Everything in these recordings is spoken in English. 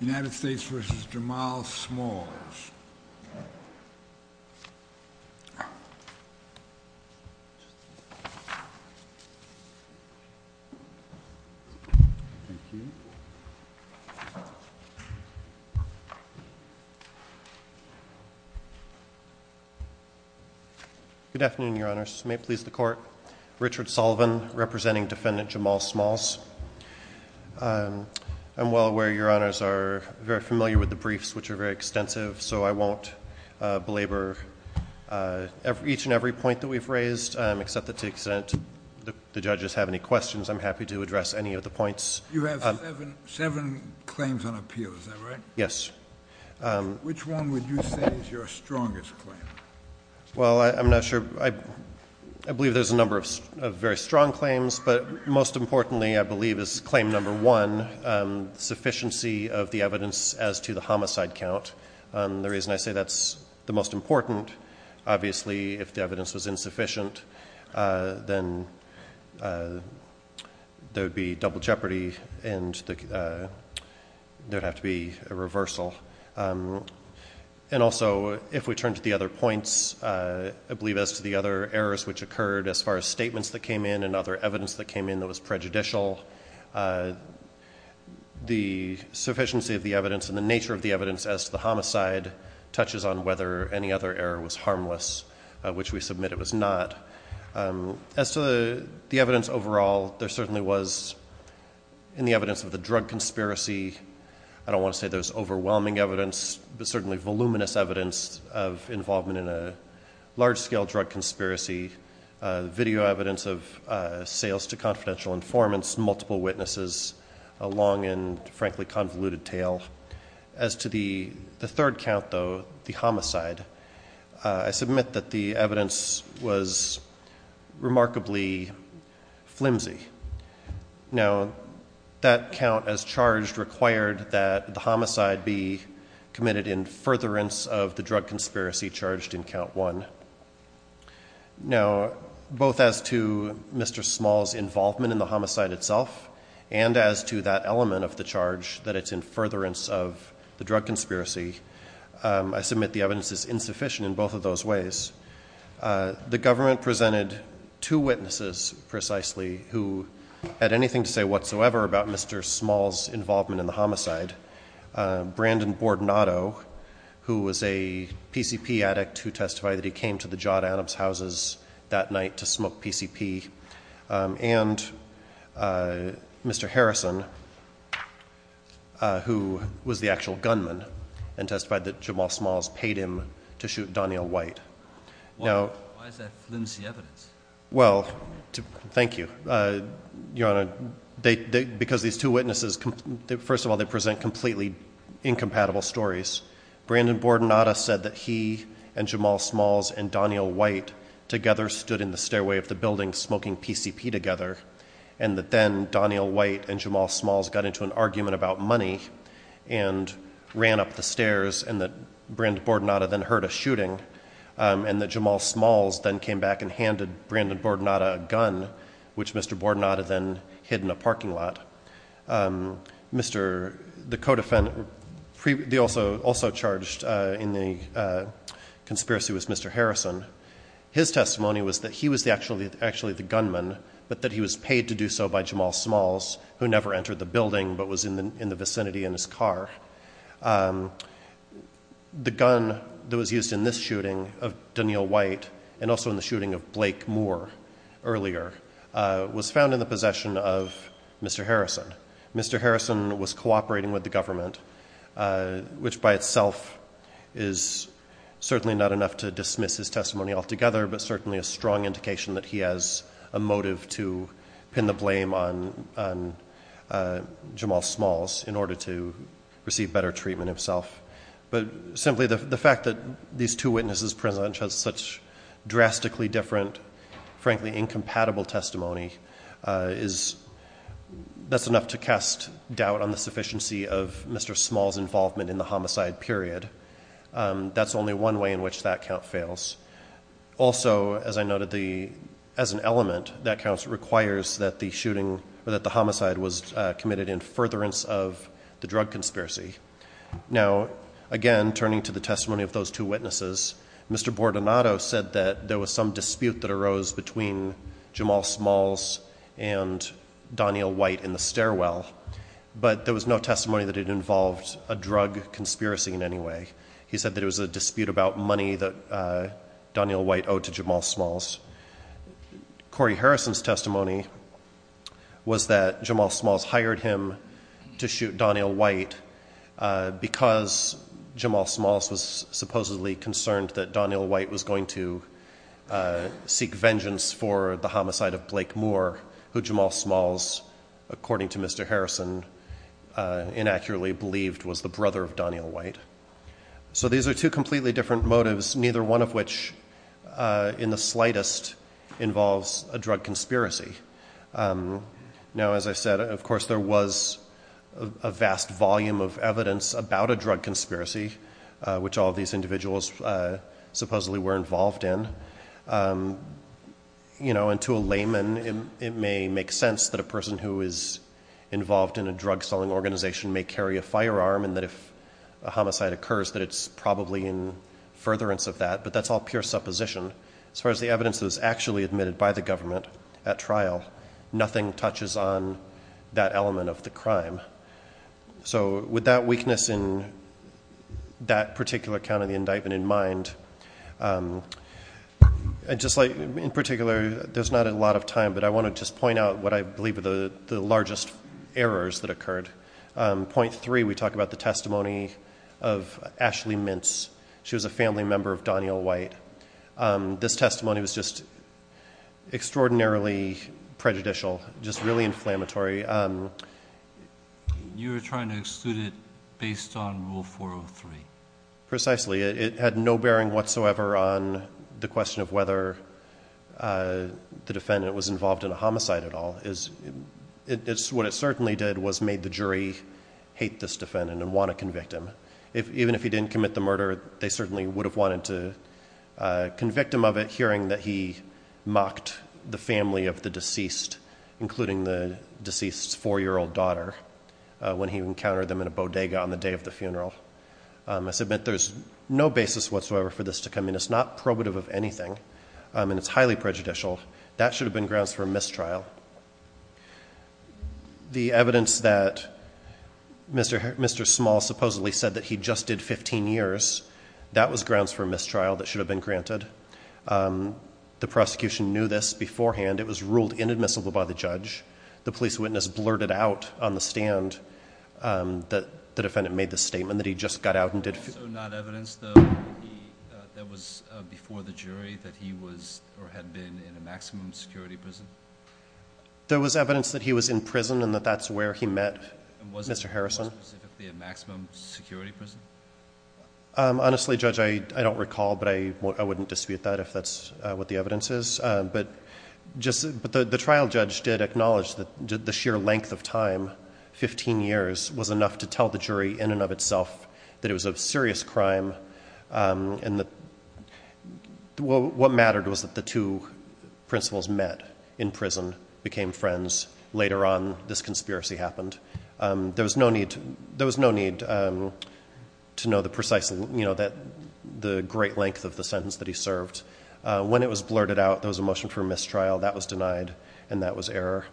United States v. Jamal Smalls. Good afternoon, Your Honors. May it please the Court. Richard Sullivan, representing Defendant Jamal Smalls. I'm well aware Your Honors are very familiar with the briefs, which are very extensive, so I won't belabor each and every point that we've raised, except that to the extent the judges have any questions, I'm happy to address any of the points. You have seven claims on appeal, is that right? Yes. Which one would you say is your strongest claim? Well, I'm not sure. I believe there's a number of very strong claims, but most importantly, I believe, is claim number one, sufficiency of the evidence as to the homicide count. The reason I say that's the most important, obviously, if the evidence was insufficient, then there would be double jeopardy and there would have to be a reversal. And also, if we turn to the other points, I believe as to the other errors which occurred as far as statements that came in and other evidence that came in that was prejudicial, the sufficiency of the evidence and the nature of the evidence as to the homicide touches on whether any other error was harmless, which we submit it was not. As to the evidence overall, there certainly was, in the evidence of the drug conspiracy, I don't want to say there's overwhelming evidence, but certainly voluminous evidence of involvement in a large-scale drug conspiracy, video evidence of sales to confidential informants, multiple witnesses, a long and, frankly, convoluted tale. As to the third count, though, the homicide, I submit that the evidence was remarkably flimsy. Now, that count as charged required that the homicide be committed in furtherance of the drug conspiracy charged in count one. Now, both as to Mr. Small's involvement in the homicide itself and as to that element of the charge, that it's in furtherance of the drug conspiracy, I submit the evidence is insufficient in both of those ways. The government presented two witnesses, precisely, who had anything to say whatsoever about Mr. Small's involvement in the homicide, Brandon Bordenado, who was a PCP addict who testified that he came to the Jod Adams houses that night to smoke PCP, and Mr. Harrison, who was the actual gunman, and testified that Jamal Smalls paid him to shoot Donyell White. Why is that flimsy evidence? Well, thank you, Your Honor, because these two witnesses, first of all, they present completely incompatible stories. Brandon Bordenado said that he and Jamal Smalls and Donyell White together stood in the stairway of the building smoking PCP together, and that then Donyell White and Jamal Smalls got into an argument about money and ran up the stairs, and that Brandon Bordenado then heard a shooting, and that Jamal Smalls then came back and handed Brandon Bordenado a gun, which Mr. Bordenado then hid in a parking lot. The co-defendant also charged in the conspiracy was Mr. Harrison. His testimony was that he was actually the gunman, but that he was paid to do so by Jamal Smalls, who never entered the building, but was in the vicinity in his car. The gun that was used in this shooting of Donyell White, and also in the shooting of Blake Moore earlier, was found in the possession of Mr. Harrison. Mr. Harrison was cooperating with the government, which by itself is certainly not enough to dismiss his testimony altogether, but certainly a strong indication that he has a motive to pin the blame on Jamal Smalls in order to receive better treatment himself. But simply the fact that these two witnesses present such drastically different, frankly incompatible testimony, that's enough to cast doubt on the sufficiency of Mr. Smalls' involvement in the homicide period. That's only one way in which that count fails. Also, as I noted, as an element, that count requires that the homicide was committed in furtherance of the drug conspiracy. Now, again, turning to the testimony of those two witnesses, Mr. Bordenado said that there was some dispute that arose between Jamal Smalls and Donyell White in the stairwell, but there was no testimony that it involved a drug conspiracy in any way. He said that it was a dispute about money that Donyell White owed to Jamal Smalls. Corey Harrison's testimony was that Jamal Smalls hired him to shoot Donyell White because Jamal Smalls was supposedly concerned that Donyell White was going to seek vengeance for the homicide of Blake Moore, who Jamal Smalls, according to Mr. Harrison, inaccurately believed was the brother of Donyell White. So these are two completely different motives, neither one of which in the slightest involves a drug conspiracy. Now, as I said, of course, there was a vast volume of evidence about a drug conspiracy, which all of these individuals supposedly were involved in. And to a layman, it may make sense that a person who is involved in a drug-selling organization may carry a firearm and that if a homicide occurs that it's probably in furtherance of that, but that's all pure supposition. As far as the evidence that was actually admitted by the government at trial, nothing touches on that element of the crime. So with that weakness in that particular count of the indictment in mind, in particular, there's not a lot of time, but I want to just point out what I believe are the largest errors that occurred. Point three, we talk about the testimony of Ashley Mintz. She was a family member of Donyell White. This testimony was just extraordinarily prejudicial, just really inflammatory. You were trying to exclude it based on Rule 403. Precisely. It had no bearing whatsoever on the question of whether the defendant was involved in a homicide at all. What it certainly did was made the jury hate this defendant and want to convict him. Even if he didn't commit the murder, they certainly would have wanted to convict him of it, hearing that he mocked the family of the deceased, including the deceased's 4-year-old daughter, when he encountered them in a bodega on the day of the funeral. I submit there's no basis whatsoever for this to come in. It's not probative of anything, and it's highly prejudicial. That should have been grounds for a mistrial. The evidence that Mr. Small supposedly said that he just did 15 years, that was grounds for a mistrial that should have been granted. The prosecution knew this beforehand. It was ruled inadmissible by the judge. The police witness blurted out on the stand that the defendant made this statement, that he just got out and did 15 years. So not evidence, though, that was before the jury that he was or had been in a maximum security prison? There was evidence that he was in prison and that that's where he met Mr. Harrison. Was it specifically a maximum security prison? Honestly, Judge, I don't recall, but I wouldn't dispute that if that's what the evidence is. But the trial judge did acknowledge that the sheer length of time, 15 years, was enough to tell the jury in and of itself that it was a serious crime. What mattered was that the two principals met in prison, became friends. Later on, this conspiracy happened. There was no need to know the precise, the great length of the sentence that he served. When it was blurted out, there was a motion for mistrial. That was denied, and that was error.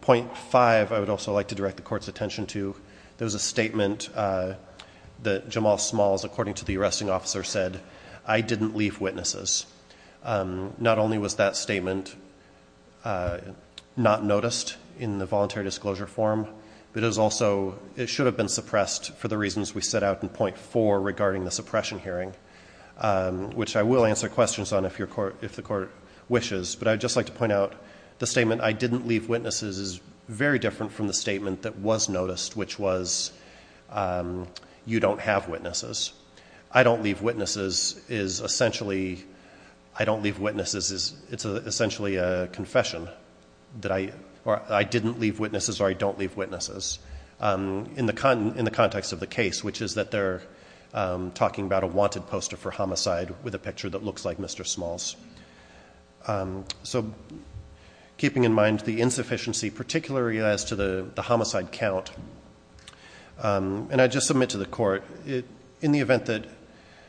Point five I would also like to direct the Court's attention to. There was a statement that Jamal Smalls, according to the arresting officer, said, I didn't leave witnesses. Not only was that statement not noticed in the voluntary disclosure form, but it should have been suppressed for the reasons we set out in point four regarding the suppression hearing, which I will answer questions on if the Court wishes. But I would just like to point out the statement, I didn't leave witnesses, is very different from the statement that was noticed, which was, you don't have witnesses. I don't leave witnesses is essentially a confession. I didn't leave witnesses or I don't leave witnesses in the context of the case, which is that they're talking about a wanted poster for homicide with a picture that looks like Mr. Smalls. So keeping in mind the insufficiency, particularly as to the homicide count, and I just submit to the Court, in the event that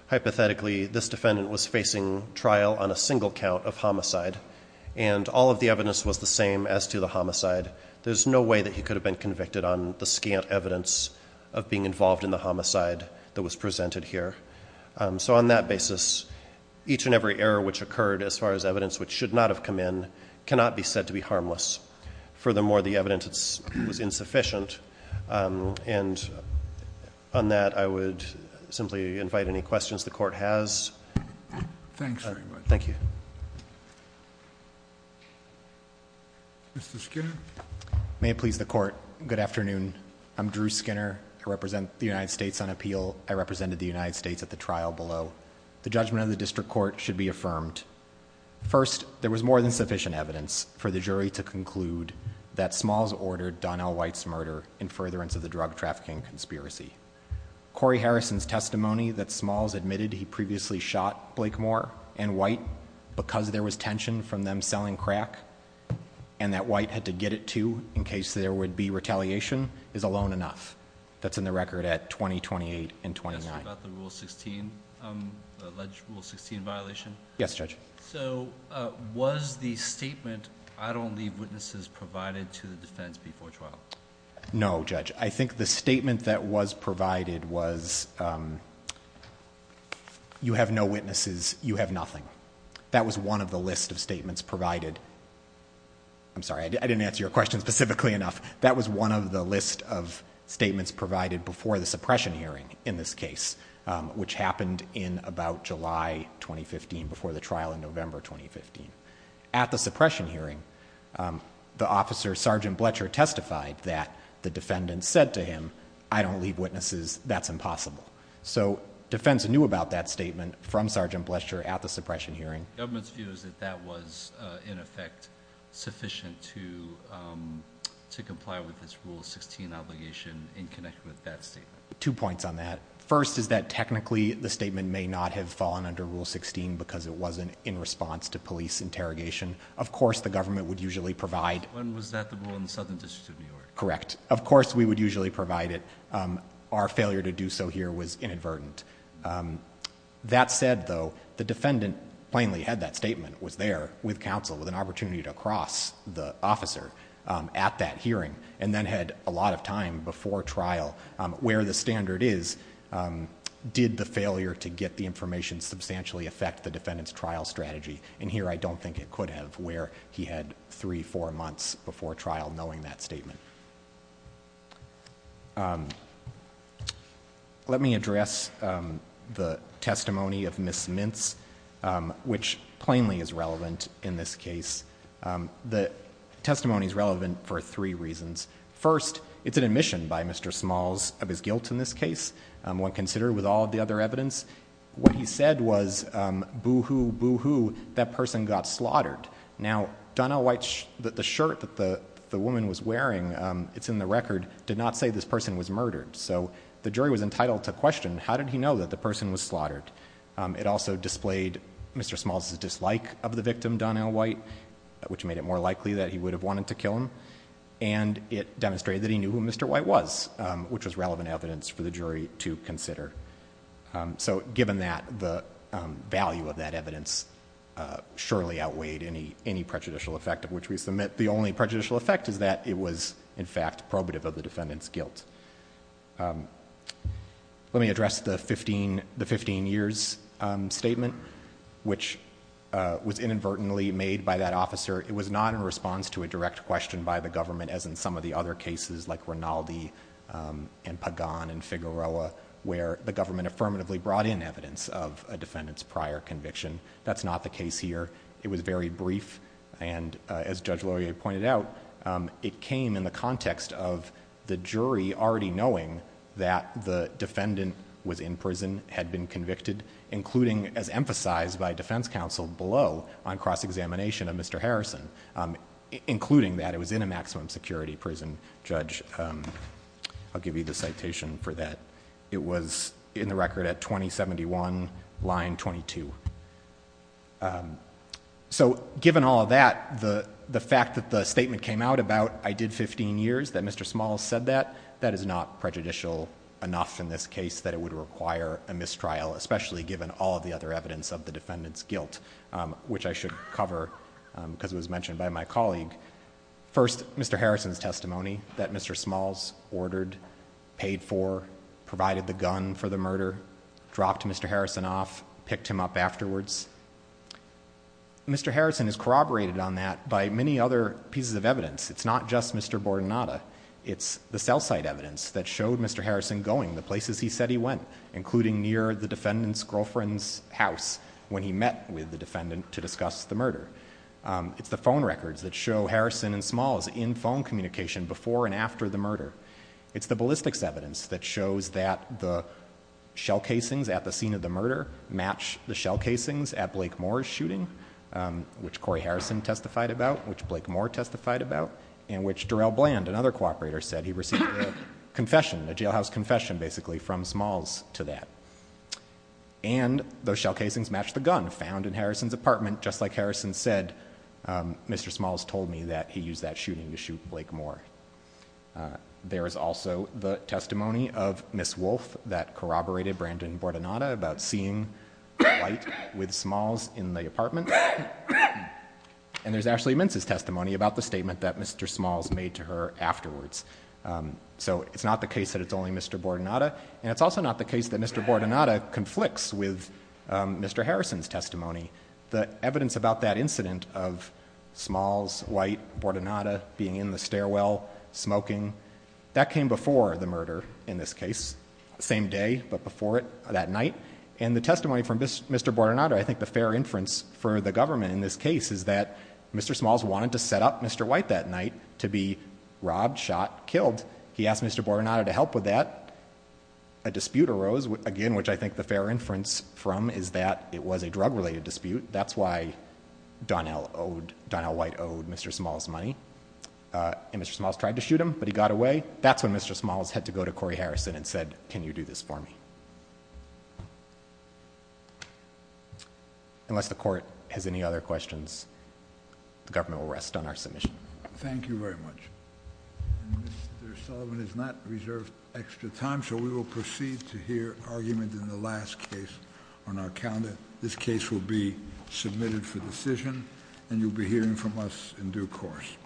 hypothetically this defendant was facing trial on a single count of homicide and all of the evidence was the same as to the homicide, there's no way that he could have been convicted on the scant evidence of being involved in the homicide that was presented here. So on that basis, each and every error which occurred as far as evidence which should not have come in cannot be said to be harmless. Furthermore, the evidence was insufficient. And on that, I would simply invite any questions the Court has. Thank you. Thank you very much. Thank you. Mr. Skinner. May it please the Court. Good afternoon. I'm Drew Skinner. I represent the United States on appeal. I represented the United States at the trial below. The judgment of the District Court should be affirmed. First, there was more than sufficient evidence for the jury to conclude that Smalls ordered Donnell White's murder in furtherance of the drug trafficking conspiracy. Corey Harrison's testimony that Smalls admitted he previously shot Blakemore and White because there was tension from them selling crack and that White had to get it to in case there would be retaliation is alone enough. That's in the record at 2028 and 2029. Yes, about the Rule 16, the alleged Rule 16 violation. Yes, Judge. So was the statement, I don't leave witnesses provided to the defense before trial? No, Judge. I think the statement that was provided was you have no witnesses, you have nothing. That was one of the list of statements provided. I'm sorry, I didn't answer your question specifically enough. That was one of the list of statements provided before the suppression hearing in this case, which happened in about July 2015 before the trial in November 2015. At the suppression hearing, the officer, Sergeant Bletcher, testified that the defendant said to him, I don't leave witnesses, that's impossible. So defense knew about that statement from Sergeant Bletcher at the suppression hearing. The government's view is that that was in effect sufficient to comply with this Rule 16 obligation in connection with that statement. Two points on that. First is that technically the statement may not have fallen under Rule 16 because it wasn't in response to police interrogation. Of course, the government would usually provide. And was that the rule in the Southern District of New York? Correct. Of course, we would usually provide it. Our failure to do so here was inadvertent. That said, though, the defendant plainly had that statement, was there with counsel, with an opportunity to cross the officer at that hearing, and then had a lot of time before trial. Where the standard is, did the failure to get the information substantially affect the defendant's trial strategy? And here I don't think it could have where he had three, four months before trial knowing that statement. Let me address the testimony of Ms. Mintz, which plainly is relevant in this case. The testimony is relevant for three reasons. First, it's an admission by Mr. Smalls of his guilt in this case, when considered with all of the other evidence. What he said was, boo-hoo, boo-hoo, that person got slaughtered. Now, Donnell White, the shirt that the woman was wearing, it's in the record, did not say this person was murdered. So the jury was entitled to question, how did he know that the person was slaughtered? It also displayed Mr. Smalls' dislike of the victim, Donnell White, which made it more likely that he would have wanted to kill him. And it demonstrated that he knew who Mr. White was, which was relevant evidence for the jury to consider. So given that, the value of that evidence surely outweighed any prejudicial effect of which we submit. The only prejudicial effect is that it was, in fact, probative of the defendant's guilt. Let me address the 15 years statement, which was inadvertently made by that officer. It was not in response to a direct question by the government, as in some of the other cases like Rinaldi and Pagan and Figueroa, where the government affirmatively brought in evidence of a defendant's prior conviction. That's not the case here. It was very brief, and as Judge Laurier pointed out, it came in the context of the jury already knowing that the defendant was in prison, had been convicted, including, as emphasized by defense counsel below, on cross-examination of Mr. Harrison. Including that, it was in a maximum security prison, Judge. I'll give you the citation for that. It was in the record at 2071, line 22. So given all of that, the fact that the statement came out about, I did 15 years, that Mr. Smalls said that, that is not prejudicial enough in this case that it would require a mistrial, especially given all of the other evidence of the defendant's guilt, which I should cover because it was mentioned by my colleague. First, Mr. Harrison's testimony that Mr. Smalls ordered, paid for, provided the gun for the murder, dropped Mr. Harrison off, picked him up afterwards. Mr. Harrison is corroborated on that by many other pieces of evidence. It's not just Mr. Bordenada. It's the cell site evidence that showed Mr. Harrison going the places he said he went, including near the defendant's girlfriend's house when he met with the defendant to discuss the murder. It's the phone records that show Harrison and Smalls in phone communication before and after the murder. It's the ballistics evidence that shows that the shell casings at the scene of the murder match the shell casings at Blake Moore's shooting, which Corey Harrison testified about, which Blake Moore testified about, and which Darrell Bland, another cooperator, said he received a confession, a jailhouse confession, basically, from Smalls to that. And those shell casings match the gun found in Harrison's apartment. Just like Harrison said, Mr. Smalls told me that he used that shooting to shoot Blake Moore. There is also the testimony of Ms. Wolfe that corroborated Brandon Bordenada about seeing White with Smalls in the apartment. And there's Ashley Mintz's testimony about the statement that Mr. Smalls made to her afterwards. So it's not the case that it's only Mr. Bordenada. And it's also not the case that Mr. Bordenada conflicts with Mr. Harrison's testimony. The evidence about that incident of Smalls, White, Bordenada being in the stairwell smoking, that came before the murder in this case. Same day, but before it that night. And the testimony from Mr. Bordenada, I think the fair inference for the government in this case, is that Mr. Smalls wanted to set up Mr. White that night to be robbed, shot, killed. He asked Mr. Bordenada to help with that. A dispute arose, again, which I think the fair inference from is that it was a drug-related dispute. That's why Donnell White owed Mr. Smalls money. And Mr. Smalls tried to shoot him, but he got away. That's when Mr. Smalls had to go to Corey Harrison and said, can you do this for me? Unless the court has any other questions, the government will rest on our submission. Thank you very much. Mr. Sullivan has not reserved extra time, so we will proceed to hear argument in the last case on our calendar. This case will be submitted for decision, and you'll be hearing from us in due course.